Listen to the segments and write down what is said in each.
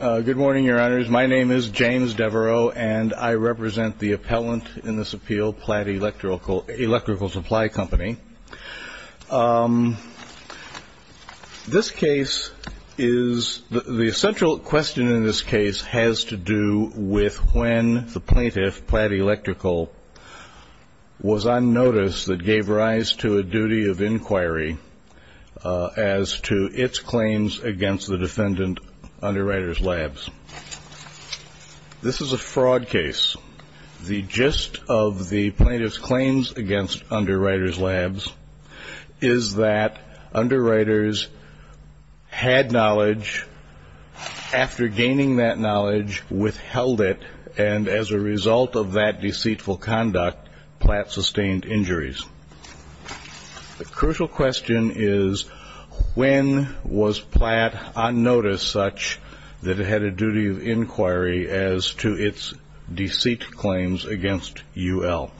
Good morning, your honors. My name is James Devereaux, and I represent the appellant in this appeal, Platt Electrical Supply Company. This case is, the central question in this case has to do with when the plaintiff, Platt Electrical, was on notice that gave rise to a duty of inquiry as to its claims against the defendant, Underwriters Labs. This is a fraud case. The gist of the plaintiff's claims against Underwriters Labs is that Underwriters had knowledge. After gaining that knowledge, withheld it, and as a result of that deceitful conduct, Platt sustained injuries. The crucial question is, when was Platt on notice such that it had a duty of inquiry as to its deceit claims against UL?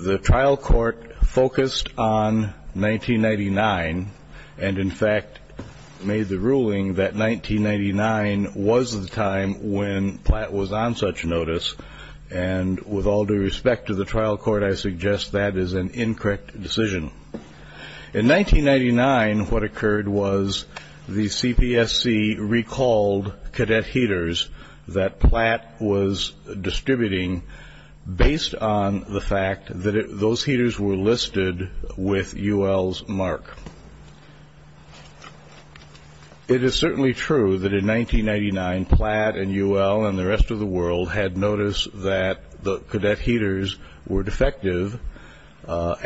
The trial court focused on 1999, and in fact made the ruling that 1999 was the time when Platt was on such notice, and with all due respect to the trial court, I suggest that is an incorrect decision. In 1999, what occurred was the CPSC recalled cadet heaters that Platt was distributing, based on the fact that those heaters were listed with UL's mark. It is certainly true that in 1999, Platt and UL and the rest of the world had noticed that the cadet heaters were defective, but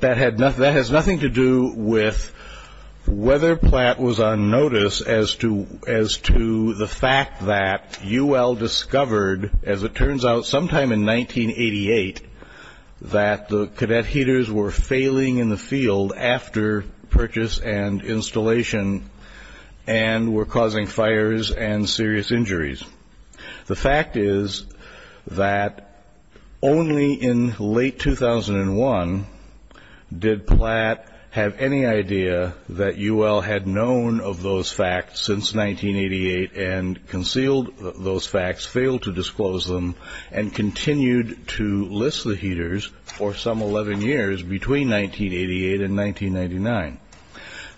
that has nothing to do with whether Platt was on notice as to the fact that UL discovered, as it turns out, sometime in 1988, that the cadet heaters were failing in the field after purchase and installation, and were causing fires and serious injuries. The fact is that only in late 2001 did Platt have any idea that UL had known of those facts since 1988, and concealed those facts, failed to disclose them, and continued to list the heaters for some 11 years between 1988 and 1999.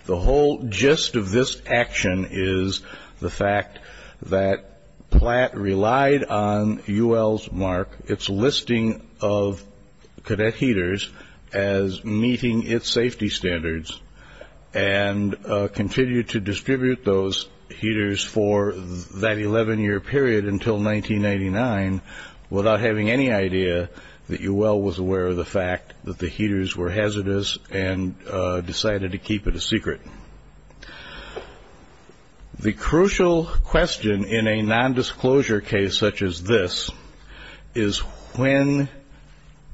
The whole gist of this action is the fact that Platt relied on UL's mark, its listing of cadet heaters, as meeting its safety standards, and continued to distribute those heaters for that 11-year period until 1999, without having any idea that UL was aware of the fact that the heaters were hazardous and decided to keep it a secret. The crucial question in a non-disclosure case such as this is, when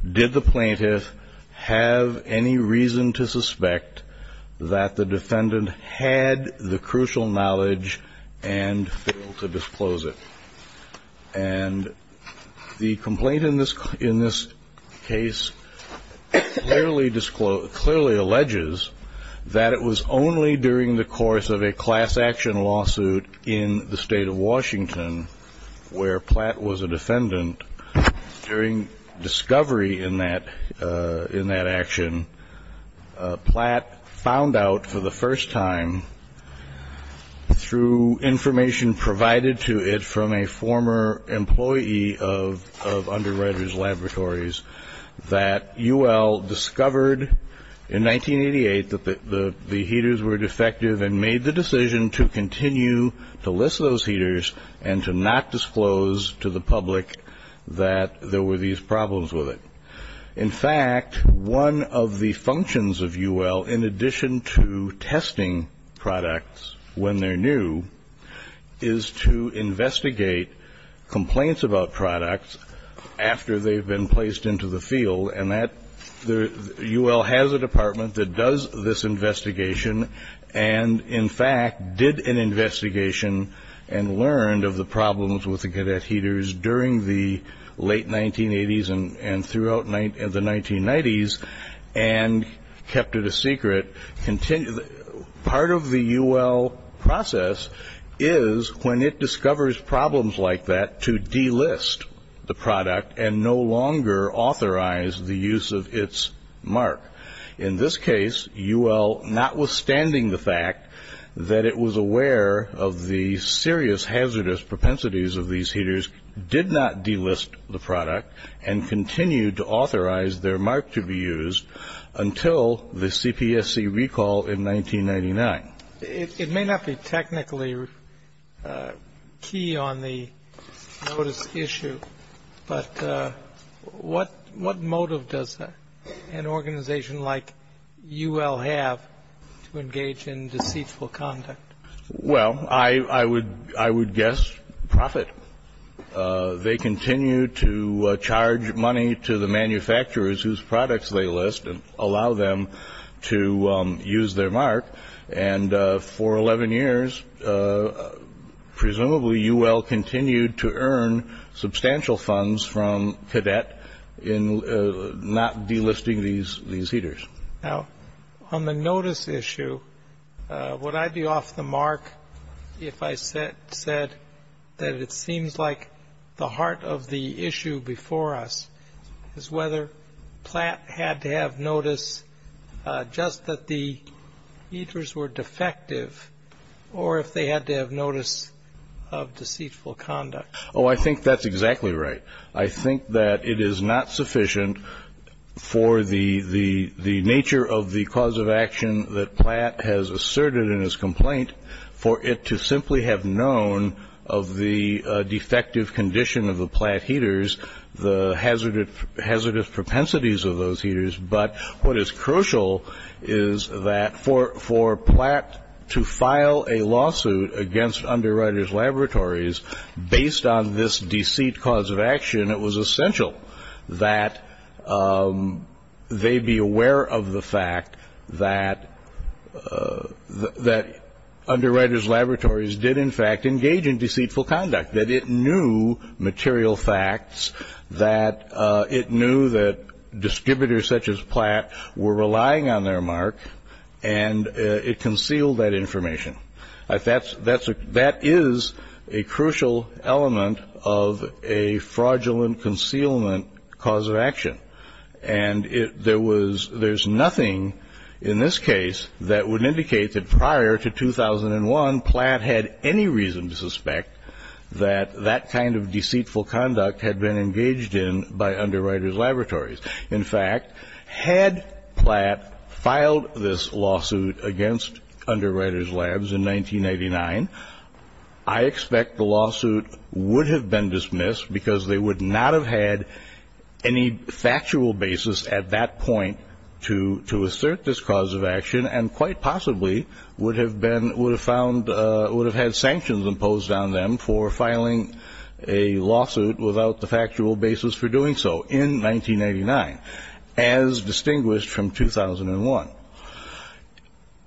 did the plaintiff have any reason to suspect that the defendant had the crucial knowledge and failed to disclose it? And the complaint in this case clearly alleges that it was only during the course of a class action lawsuit in the state of Washington, where Platt was a defendant, during discovery in that action, Platt found out for the first time, through information provided to it from a former employee of Underwriters Laboratories, that UL discovered in 1988 that the heaters were defective and made the decision to continue to list those heaters, and to not disclose to the public that there were these problems with it. In fact, one of the functions of UL, in addition to testing products when they're new, is to investigate complaints about products after they've been placed into the field, and UL has a department that does this investigation, and in fact did an investigation and learned of the problems with the cadet heaters during the late 1980s and throughout the 1990s, and kept it a secret. Part of the UL process is, when it discovers problems like that, to delist the product and no longer authorize the use of its mark. In this case, UL, notwithstanding the fact that it was aware of the serious hazardous propensities of these heaters, did not delist the product and continued to authorize their mark to be used until the CPSC recall in 1999. It may not be technically key on the notice issue, but what motive does an organization like UL have to engage in deceitful conduct? Well, I would guess profit. They continue to charge money to the manufacturers whose products they list and allow them to use their mark, and for 11 years, presumably UL continued to earn substantial funds from cadet in not delisting these heaters. Now, on the notice issue, would I be off the mark if I said that it seems like the heart of the issue before us is whether Platt had to have notice just that the heaters were defective or if they had to have notice of deceitful conduct? Oh, I think that's exactly right. I think that it is not sufficient for the nature of the cause of action that Platt has asserted in his complaint for it to simply have known of the defective condition of the Platt heaters, the hazardous propensities of those heaters. But what is crucial is that for Platt to file a lawsuit against Underwriters Laboratories based on this deceit cause of action, it was essential that they be aware of the fact that Underwriters Laboratories did in fact engage in deceitful conduct, that it knew material facts, that it knew that distributors such as Platt were relying on their mark, and it concealed that information. That is a crucial element of a fraudulent concealment cause of action. And there's nothing in this case that would indicate that prior to 2001, Platt had any reason to suspect that that kind of deceitful conduct had been engaged in by Underwriters Laboratories. In fact, had Platt filed this lawsuit against Underwriters Laboratories in 1989, I expect the lawsuit would have been dismissed because they would not have had any factual basis at that point to assert this cause of action and quite possibly would have had sanctions imposed on them for filing a lawsuit without the factual basis for doing so in 1989, as distinguished from 2001.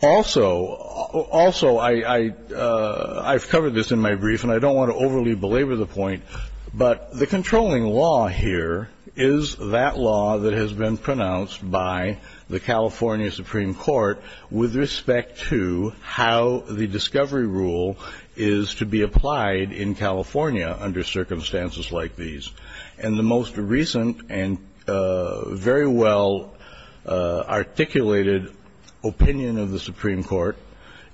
Also, I've covered this in my brief and I don't want to overly belabor the point, but the controlling law here is that law that has been pronounced by the California Supreme Court with respect to how the discovery rule is to be applied in California under circumstances like these. And the most recent and very well articulated opinion of the Supreme Court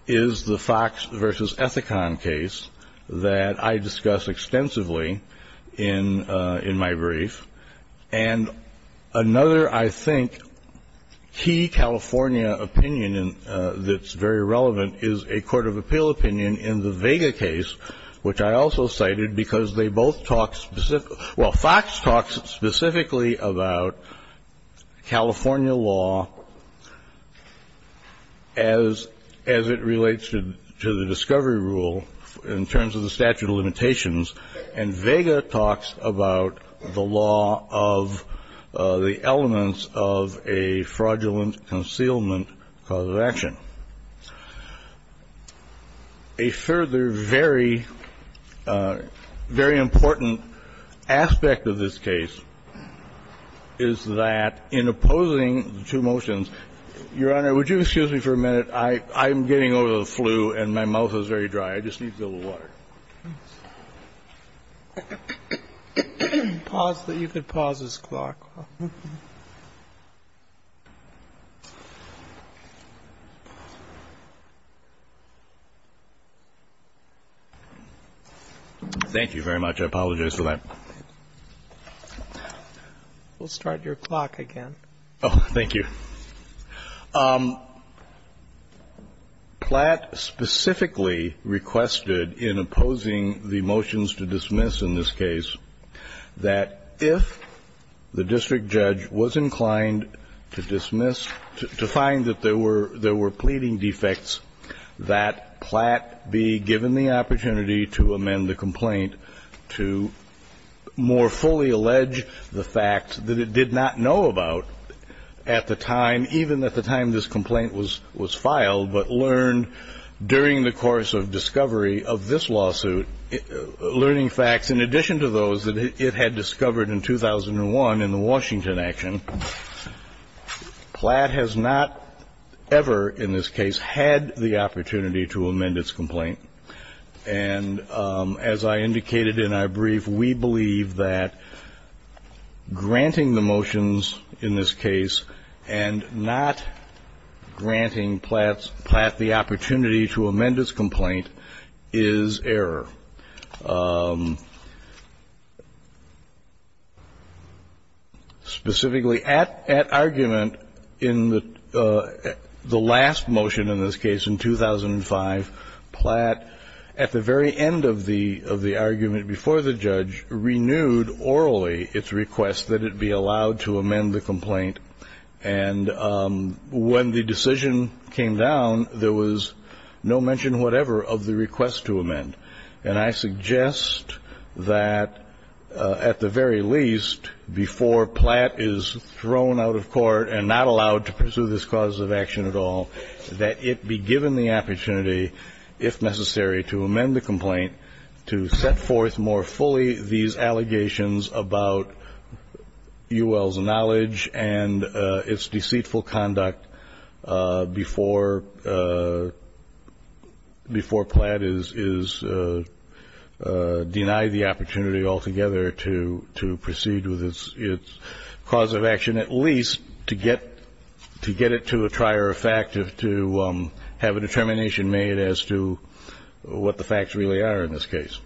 is the Fox versus Ethicon case that I discuss extensively in my brief. And another, I think, key California opinion that's very relevant is a court of appeal opinion in the Vega case, which I also cited because they both talk specifically – well, Fox talks specifically about California law as it relates to the discovery rule in terms of the statute of limitations, and Vega talks about the law of the elements of a fraudulent concealment cause of action. A further very, very important aspect of this case is that in opposing the two motions – Your Honor, would you excuse me for a minute? I'm getting over the flu and my mouth is very dry. I just need to get a little water. Pause. You could pause this clock. Thank you very much. I apologize for that. We'll start your clock again. Oh, thank you. Platt specifically requested in opposing the motions to dismiss in this case that if the district judge was inclined to dismiss, to find that there were pleading defects, that Platt be given the opportunity to amend the complaint to more fully that it did not know about at the time, even at the time this complaint was filed, but learned during the course of discovery of this lawsuit, learning facts in addition to those that it had discovered in 2001 in the Washington action, Platt has not ever in this case had the opportunity to amend its complaint. And as I indicated in our brief, we believe that granting the motions in this case and not granting Platt the opportunity to amend its complaint is error. Specifically, at argument in the last motion in this case in 2005, Platt at the very end of the argument before the judge renewed orally its request that it be allowed to amend the complaint. And when the decision came down, there was no mention whatever of the request to amend. And I suggest that at the very least, before Platt is thrown out of court and not allowed to pursue this cause of action at all, that it be given the opportunity, if necessary, to amend the complaint to set forth more fully these allegations about UL's knowledge and its deceitful conduct before Platt is denied the opportunity altogether to proceed with its cause of action, at least to get it to a trier of fact, to have a determination made as to what the facts really are in this case.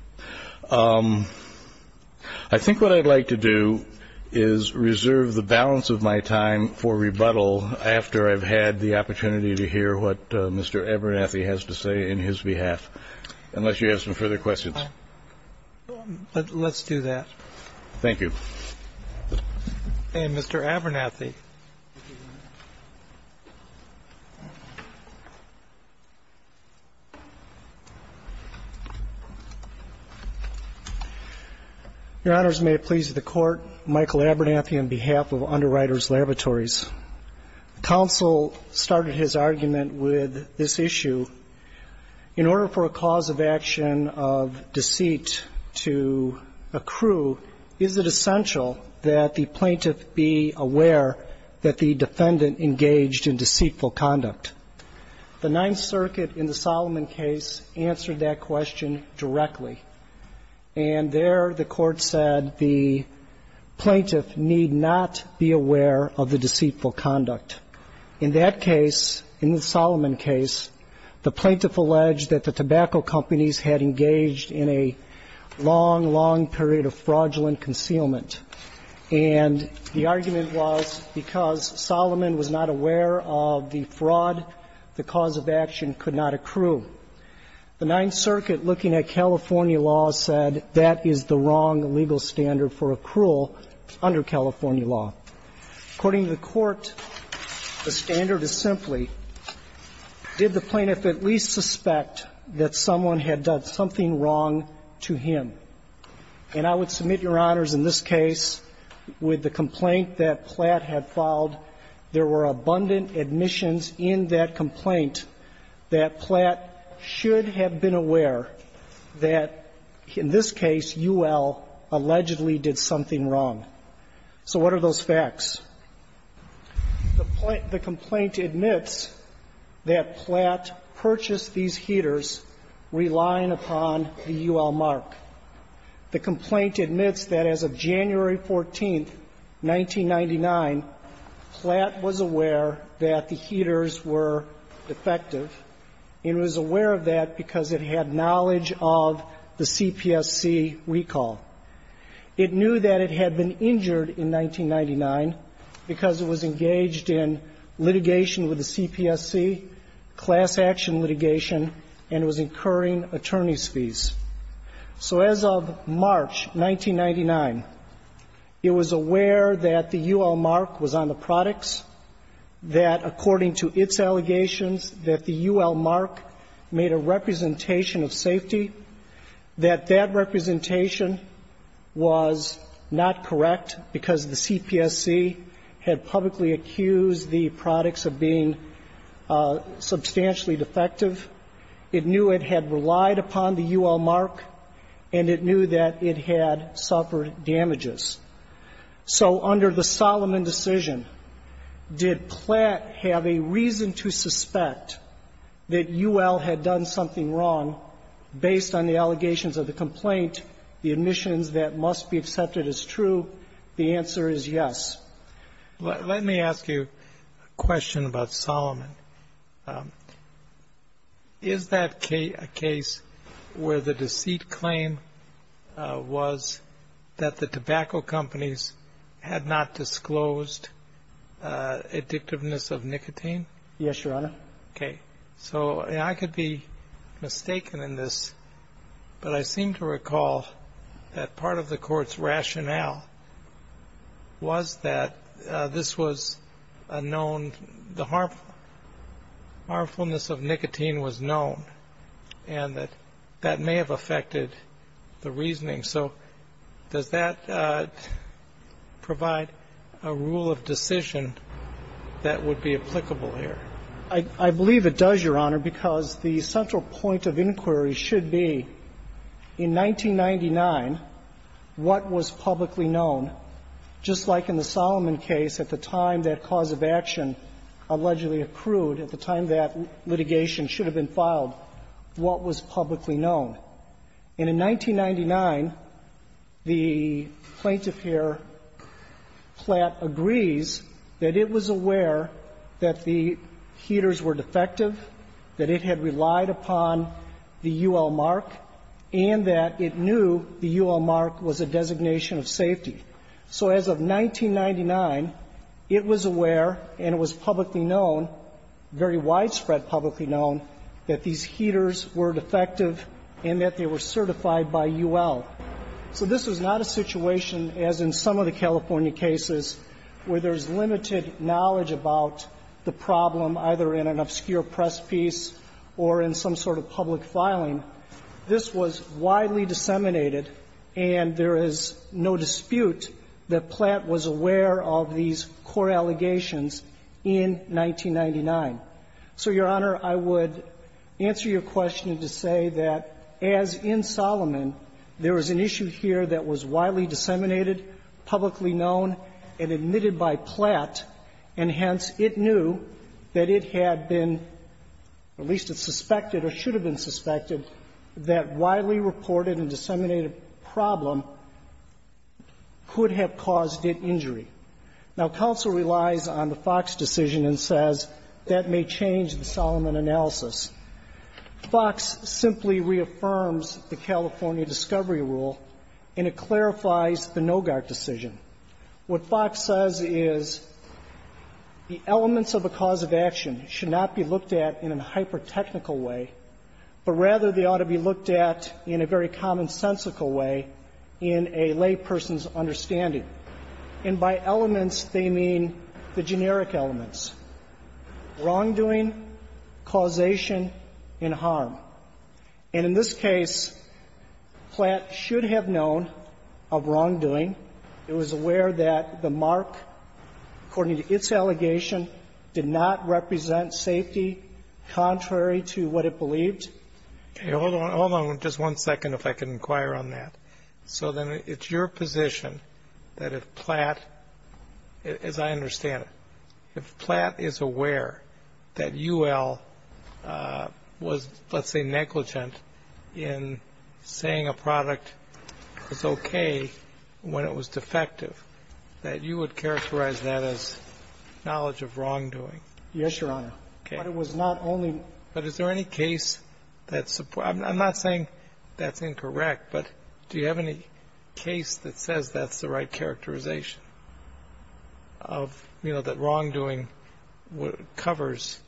I think what I'd like to do is reserve the balance of my time for rebuttal after I've had the opportunity to hear what Mr. Abernathy has to say in his behalf, unless you have some further questions. But let's do that. Thank you. And Mr. Abernathy. Your Honors, may it please the Court. Michael Abernathy on behalf of Underwriters Laboratories. Counsel started his argument with this issue. In order for a cause of action of deceit to accrue, is it essential that the plaintiff be aware that the defendant engaged in deceitful conduct? The Ninth Circuit in the Solomon case answered that question directly. And there the Court said the plaintiff need not be aware of the deceitful conduct. In that case, in the Solomon case, the plaintiff alleged that the tobacco companies had engaged in a long, long period of fraudulent concealment. And the argument was because Solomon was not aware of the fraud, the cause of action could not accrue. The Ninth Circuit, looking at California law, said that is the wrong legal standard for accrual under California law. According to the Court, the standard is simply, did the plaintiff at least suspect that someone had done something wrong to him? And I would submit, Your Honors, in this case, with the complaint that Platt had filed, there were abundant admissions in that complaint that Platt should have been aware that, in this case, UL allegedly did something wrong. So what are those facts? The complaint admits that Platt purchased these heaters relying upon the UL mark. The complaint admits that as of January 14, 1999, Platt was aware that the heaters were defective and was aware of that because it had knowledge of the CPSC recall. It knew that it had been injured in 1999 because it was engaged in litigation with the CPSC, class action litigation, and was incurring attorney's fees. So as of March 1999, it was aware that the UL mark was on the products, that according to its allegations, that the UL mark made a representation of safety, that that representation was not correct because the CPSC had publicly accused the products of being substantially defective. It knew it had relied upon the UL mark, and it knew that it had suffered damages. So under the Solomon decision, did Platt have a reason to suspect that UL had done something wrong based on the allegations of the complaint, the admissions that must be accepted as true? The answer is yes. Let me ask you a question about Solomon. Is that a case where the deceit claim was that the tobacco companies had not disclosed addictiveness of nicotine? Yes, Your Honor. Okay. So I could be mistaken in this, but I seem to recall that part of the Court's opinion that this was a known the harmfulness of nicotine was known, and that that may have affected the reasoning. So does that provide a rule of decision that would be applicable here? I believe it does, Your Honor, because the central point of inquiry should be, in 1999, what was publicly known. Just like in the Solomon case, at the time that cause of action allegedly accrued, at the time that litigation should have been filed, what was publicly known? And in 1999, the plaintiff here, Platt, agrees that it was aware that the heaters were defective, that it had relied upon the UL mark, and that it knew the UL mark was a designation of safety. So as of 1999, it was aware and it was publicly known, very widespread publicly known, that these heaters were defective and that they were certified by UL. So this was not a situation, as in some of the California cases, where there's limited knowledge about the problem, either in an obscure press piece or in some sort of public filing. This was widely disseminated, and there is no dispute that Platt was aware of these core allegations in 1999. So, Your Honor, I would answer your question to say that, as in Solomon, there was an issue here that was widely disseminated, publicly known, and admitted by Platt, and hence, it knew that it had been, or at least it suspected or should have been suspected, that widely reported and disseminated problem could have caused it injury. Now, counsel relies on the Fox decision and says that may change the Solomon analysis. Fox simply reaffirms the California discovery rule, and it clarifies the Nogaert decision. What Fox says is the elements of a cause of action should not be looked at in a hyper-technical way, but rather they ought to be looked at in a very commonsensical way in a lay person's understanding. And by elements, they mean the generic elements, wrongdoing, causation, and harm. And in this case, Platt should have known of wrongdoing. It was aware that the mark, according to its allegation, did not represent safety contrary to what it believed. Okay. Hold on. Hold on just one second, if I can inquire on that. So then it's your position that if Platt, as I understand it, if Platt is aware that UL was, let's say, negligent in saying a product is okay, when it was not, when it was defective, that you would characterize that as knowledge of wrongdoing? Yes, Your Honor. Okay. But it was not only one. But is there any case that supports that? I'm not saying that's incorrect, but do you have any case that says that's the right characterization of, you know, that wrongdoing covers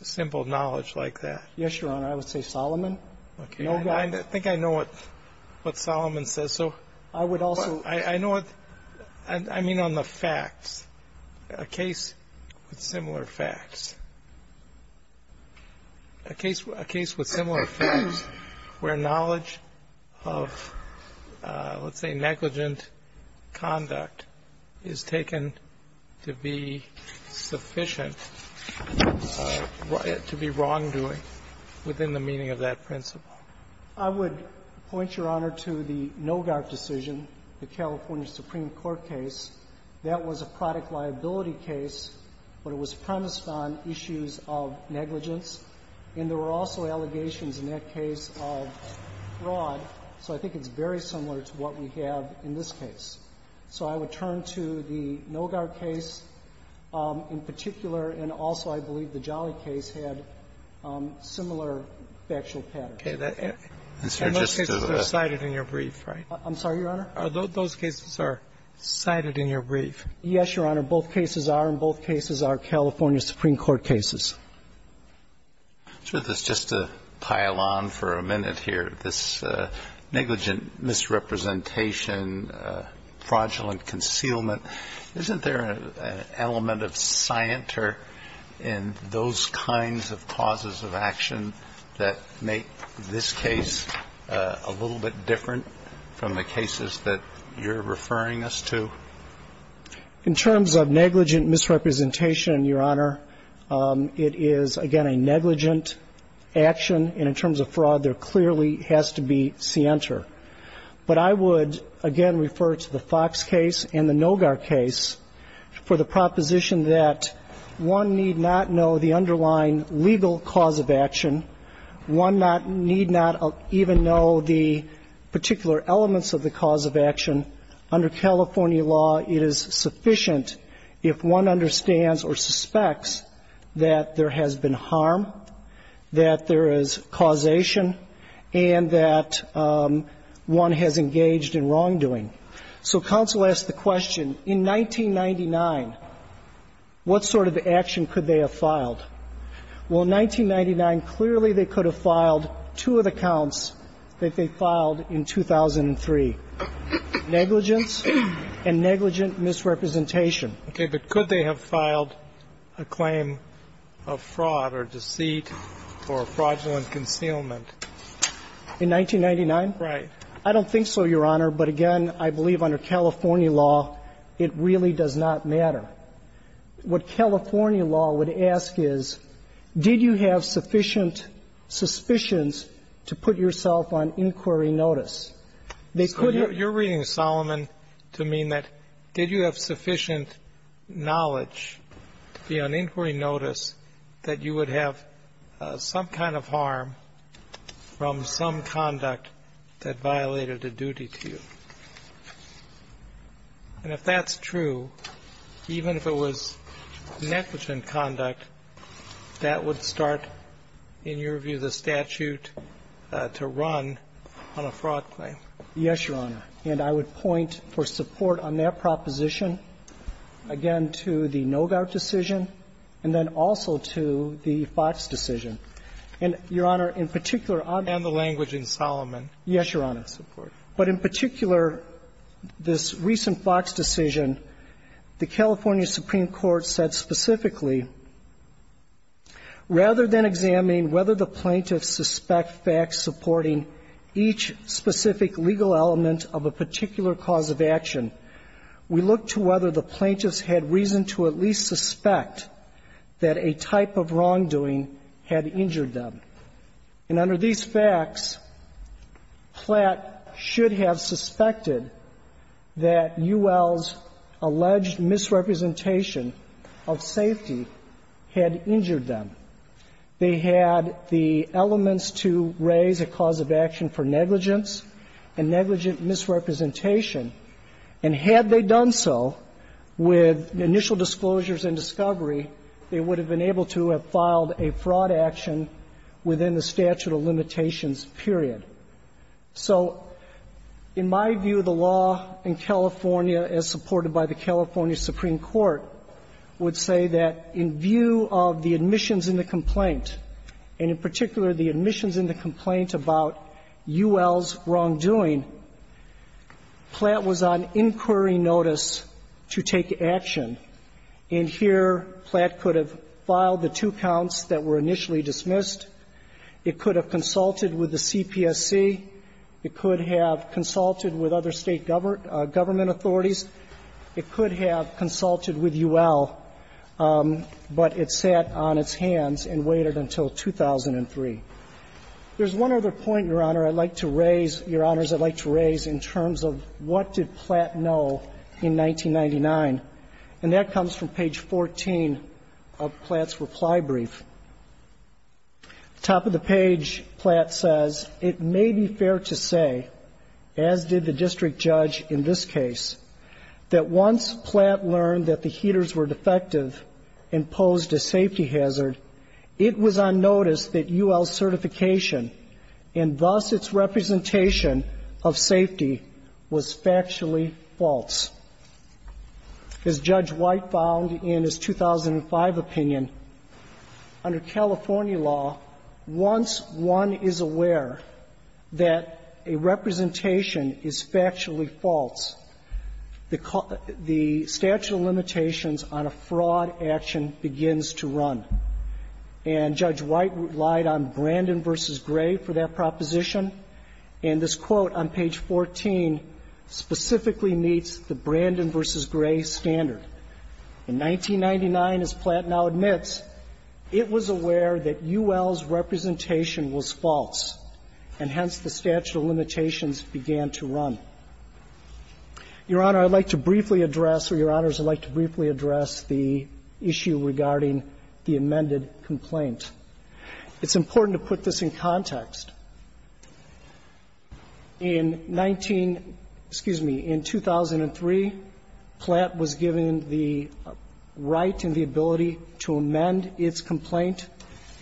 simple knowledge like that? Yes, Your Honor. I would say Solomon. And I think I know what Solomon says. So I know what I mean on the facts. A case with similar facts, a case with similar facts where knowledge of, let's say, negligent conduct is taken to be sufficient to be wrongdoing within the meaning of that principle. I would point, Your Honor, to the Nogar decision, the California Supreme Court case. That was a product liability case, but it was premised on issues of negligence. And there were also allegations in that case of fraud. So I think it's very similar to what we have in this case. So I would turn to the Nogar case in particular, and also I believe the Jolly case had similar factual patterns. And those cases are cited in your brief, right? I'm sorry, Your Honor? Are those cases cited in your brief? Yes, Your Honor. Both cases are, and both cases are California Supreme Court cases. So just to pile on for a minute here, this negligent misrepresentation, fraudulent concealment, isn't there an element of scienter in those kinds of causes of action that make this case a little bit different from the cases that you're referring us to? In terms of negligent misrepresentation, Your Honor, it is, again, a negligent action. And in terms of fraud, there clearly has to be scienter. But I would, again, refer to the Fox case and the Nogar case for the proposition that one need not know the underlying legal cause of action. One need not even know the particular elements of the cause of action. Under California law, it is sufficient if one understands or suspects that there has been harm, that there is causation, and that one has engaged in wrongdoing. So counsel asked the question, in 1999, what sort of action could they have filed? Well, in 1999, clearly they could have filed two of the counts that they filed in 2003, negligence and negligent misrepresentation. Okay. But could they have filed a claim of fraud or deceit or fraudulent concealment? In 1999? Right. I don't think so, Your Honor. But, again, I believe under California law, it really does not matter. What California law would ask is, did you have sufficient suspicions to put yourself on inquiry notice? They could have been. You're reading Solomon to mean that did you have sufficient knowledge to be on inquiry notice that you would have some kind of harm from some conduct that violated a duty to you? And if that's true, even if it was negligent conduct, that would start, in your view, the statute to run on a fraud claim. Yes, Your Honor. And I would point for support on that proposition, again, to the no-gout decision and then also to the Fox decision. And, Your Honor, in particular, I'm going to go back to that. And the language in Solomon. Yes, Your Honor. Of course. But in particular, this recent Fox decision, the California Supreme Court said specifically, rather than examining whether the plaintiffs suspect facts supporting each specific legal element of a particular cause of action, we look to whether the plaintiffs had reason to at least suspect that a type of wrongdoing had injured them. And under these facts, Platt should have suspected that UL's alleged misrepresentation of safety had injured them. They had the elements to raise a cause of action for negligence and negligent misrepresentation. And had they done so with initial disclosures and discovery, they would have been able to have filed a fraud action within the statute of limitations, period. So in my view, the law in California, as supported by the California Supreme Court, would say that in view of the admissions in the complaint, and in particular, the admissions in the complaint about UL's wrongdoing, Platt was on inquiry notice to take action. And here, Platt could have filed the two counts that were initially dismissed. It could have consulted with the CPSC. It could have consulted with other State government authorities. It could have consulted with UL. But it sat on its hands and waited until 2003. There's one other point, Your Honor, I'd like to raise, Your Honors, I'd like to raise in terms of what did Platt know in 1999. And that comes from page 14 of Platt's reply brief. Top of the page, Platt says, It may be fair to say, as did the district judge in this case, that once Platt learned that the heaters were defective and posed a safety hazard, it was on notice that UL's certification, and thus its representation of safety, was factually false. As Judge White found in his 2005 opinion, under California law, once one is aware that a representation is factually false, the statute of limitations on a fraud action begins to run. And Judge White relied on Brandon v. Gray for that proposition. And this quote on page 14 specifically meets the Brandon v. Gray standard. In 1999, as Platt now admits, it was aware that UL's representation was false. And hence, the statute of limitations began to run. Your Honor, I'd like to briefly address, or Your Honors, I'd like to briefly address the issue regarding the amended complaint. It's important to put this in context. In 19 — excuse me, in 2003, Platt was given the right and the ability to amend its complaint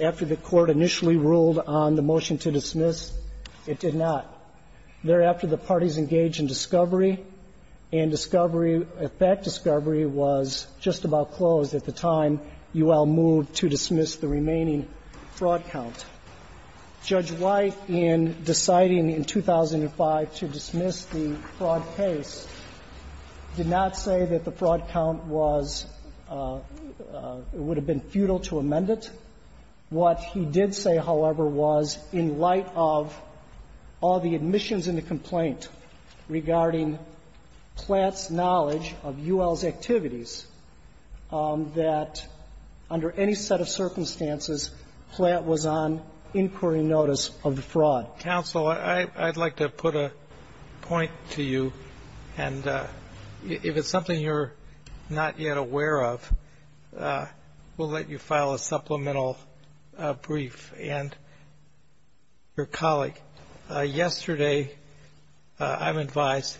after the Court initially ruled on the motion to dismiss. It did not. Thereafter, the parties engaged in discovery, and discovery — that discovery was just about closed at the time UL moved to dismiss the remaining fraud count. Judge White, in deciding in 2005 to dismiss the fraud case, did not say that the fraud count was — would have been futile to amend it. What he did say, however, was, in light of all the admissions in the complaint regarding Platt's knowledge of UL's activities, that under any set of circumstances, Platt was on inquiry notice of the fraud. Counsel, I'd like to put a point to you. And if it's something you're not yet aware of, we'll let you file a supplemental brief. And your colleague, yesterday, I'm advised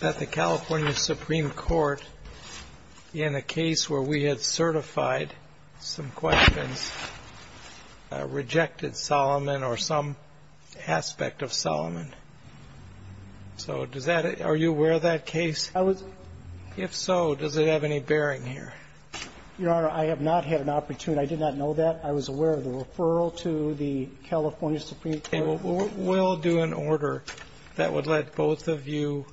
that the California Supreme Court, in a case where we had certified some questions, rejected Solomon or some aspect of Solomon. So does that — are you aware of that case? I was. If so, does it have any bearing here? Your Honor, I have not had an opportunity. I did not know that. I was aware of the referral to the California Supreme Court. Okay. Well, we'll do an order that would let both of you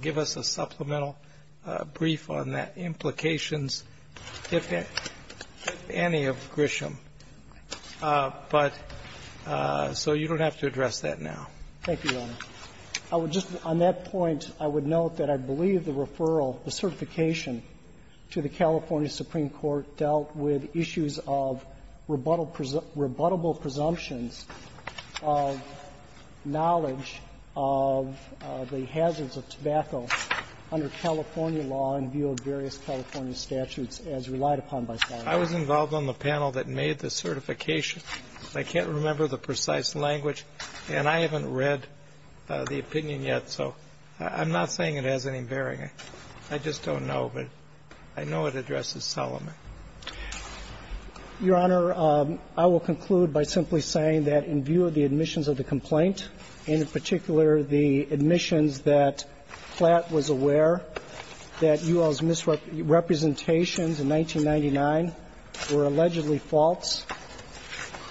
give us a supplemental brief on the implications, if any, of Grisham. But — so you don't have to address that now. Thank you, Your Honor. I would just — on that point, I would note that I believe the referral, the certification, to the California Supreme Court dealt with issues of rebuttable presumptions of knowledge of the hazards of tobacco under California law in view of various California statutes, as relied upon by Solomon. I was involved on the panel that made the certification. I can't remember the precise language, and I haven't read the opinion yet, so I'm not saying it has any bearing. I just don't know. But I know it addresses Solomon. Your Honor, I will conclude by simply saying that in view of the admissions of the complaint, and in particular the admissions that Flatt was aware that UL's misrepresentations in 1999 were allegedly false,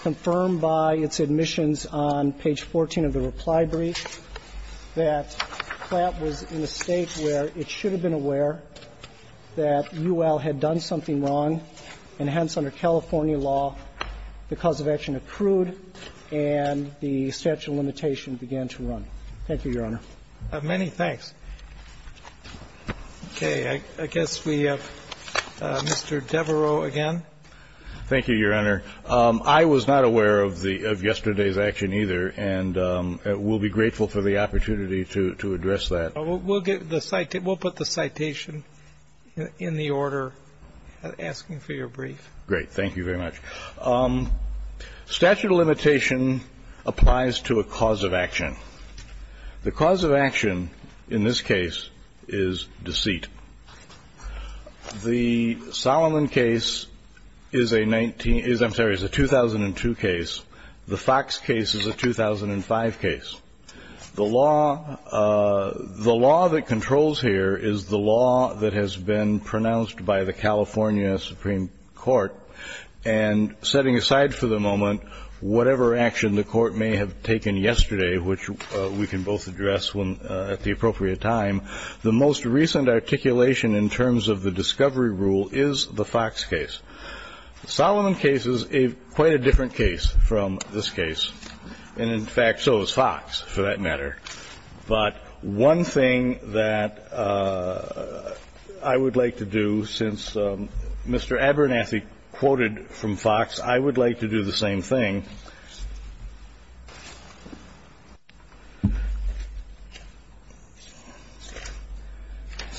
confirmed by its admissions on page 14 of the reply brief, that Flatt was in a state where it should have been aware that UL had done something wrong, and hence, under California law, the cause of action accrued and the statute of limitations began to run. Thank you, Your Honor. Many thanks. Okay. I guess we have Mr. Devereaux again. Thank you, Your Honor. I was not aware of yesterday's action either, and will be grateful for the opportunity to address that. We'll put the citation in the order asking for your brief. Great. Thank you very much. Statute of limitation applies to a cause of action. The cause of action in this case is deceit. The Solomon case is a 19 – I'm sorry, is a 2002 case. The Fox case is a 2005 case. The law that controls here is the law that has been pronounced by the California Supreme Court, and setting aside for the moment whatever action the court may have taken yesterday, which we can both address at the appropriate time, the most recent articulation in terms of the discovery rule is the Fox case. The Solomon case is quite a different case from this case, and, in fact, so is Fox for that matter. But one thing that I would like to do since Mr. Abernathy quoted from Fox, I would like to do the same thing.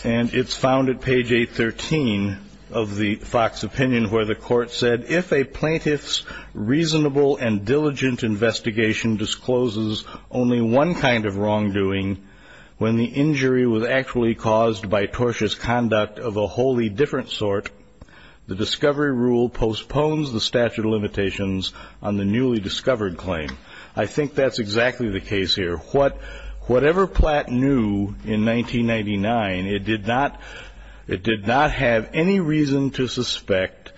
And it's found at page 813 of the Fox opinion where the court said, If a plaintiff's reasonable and diligent investigation discloses only one kind of wrongdoing when the injury was actually caused by tortious conduct of a wholly different sort, the discovery rule postpones the statute of limitations on the newly discovered claim. I think that's exactly the case here. Whatever Platt knew in 1999, it did not have any reason to suspect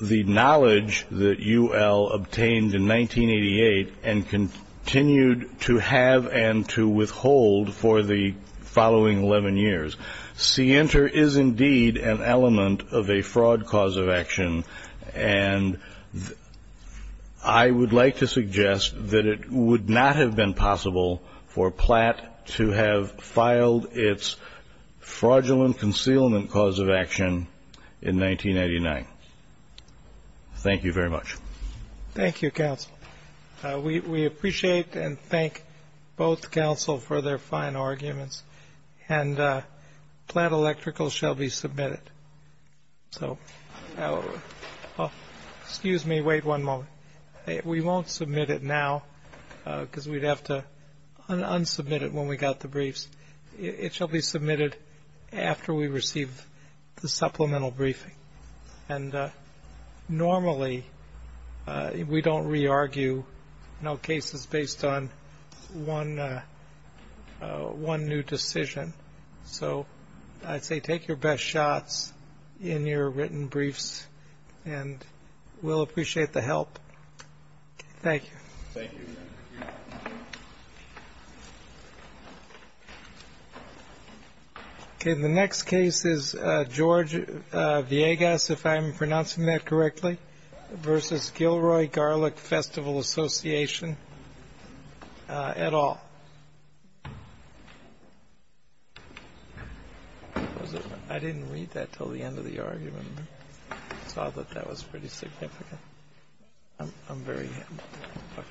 the knowledge that UL obtained in 1988 and continued to have and to withhold for the following 11 years. Sienter is indeed an element of a fraud cause of action, and I would like to suggest that it would not have been possible for Platt to have filed its fraudulent concealment cause of action in 1989. Thank you very much. Thank you, counsel. We appreciate and thank both counsel for their fine arguments. And Platt Electrical shall be submitted. So excuse me, wait one moment. We won't submit it now because we'd have to unsubmit it when we got the briefs. It shall be submitted after we receive the supplemental briefing. And normally we don't re-argue cases based on one new decision. So I'd say take your best shots in your written briefs, and we'll appreciate the help. Thank you. Thank you. Okay. The next case is George Villegas, if I'm pronouncing that correctly, versus Gilroy Garlic Festival Association et al. I didn't read that until the end of the argument. I saw that that was pretty significant. I'm very happy.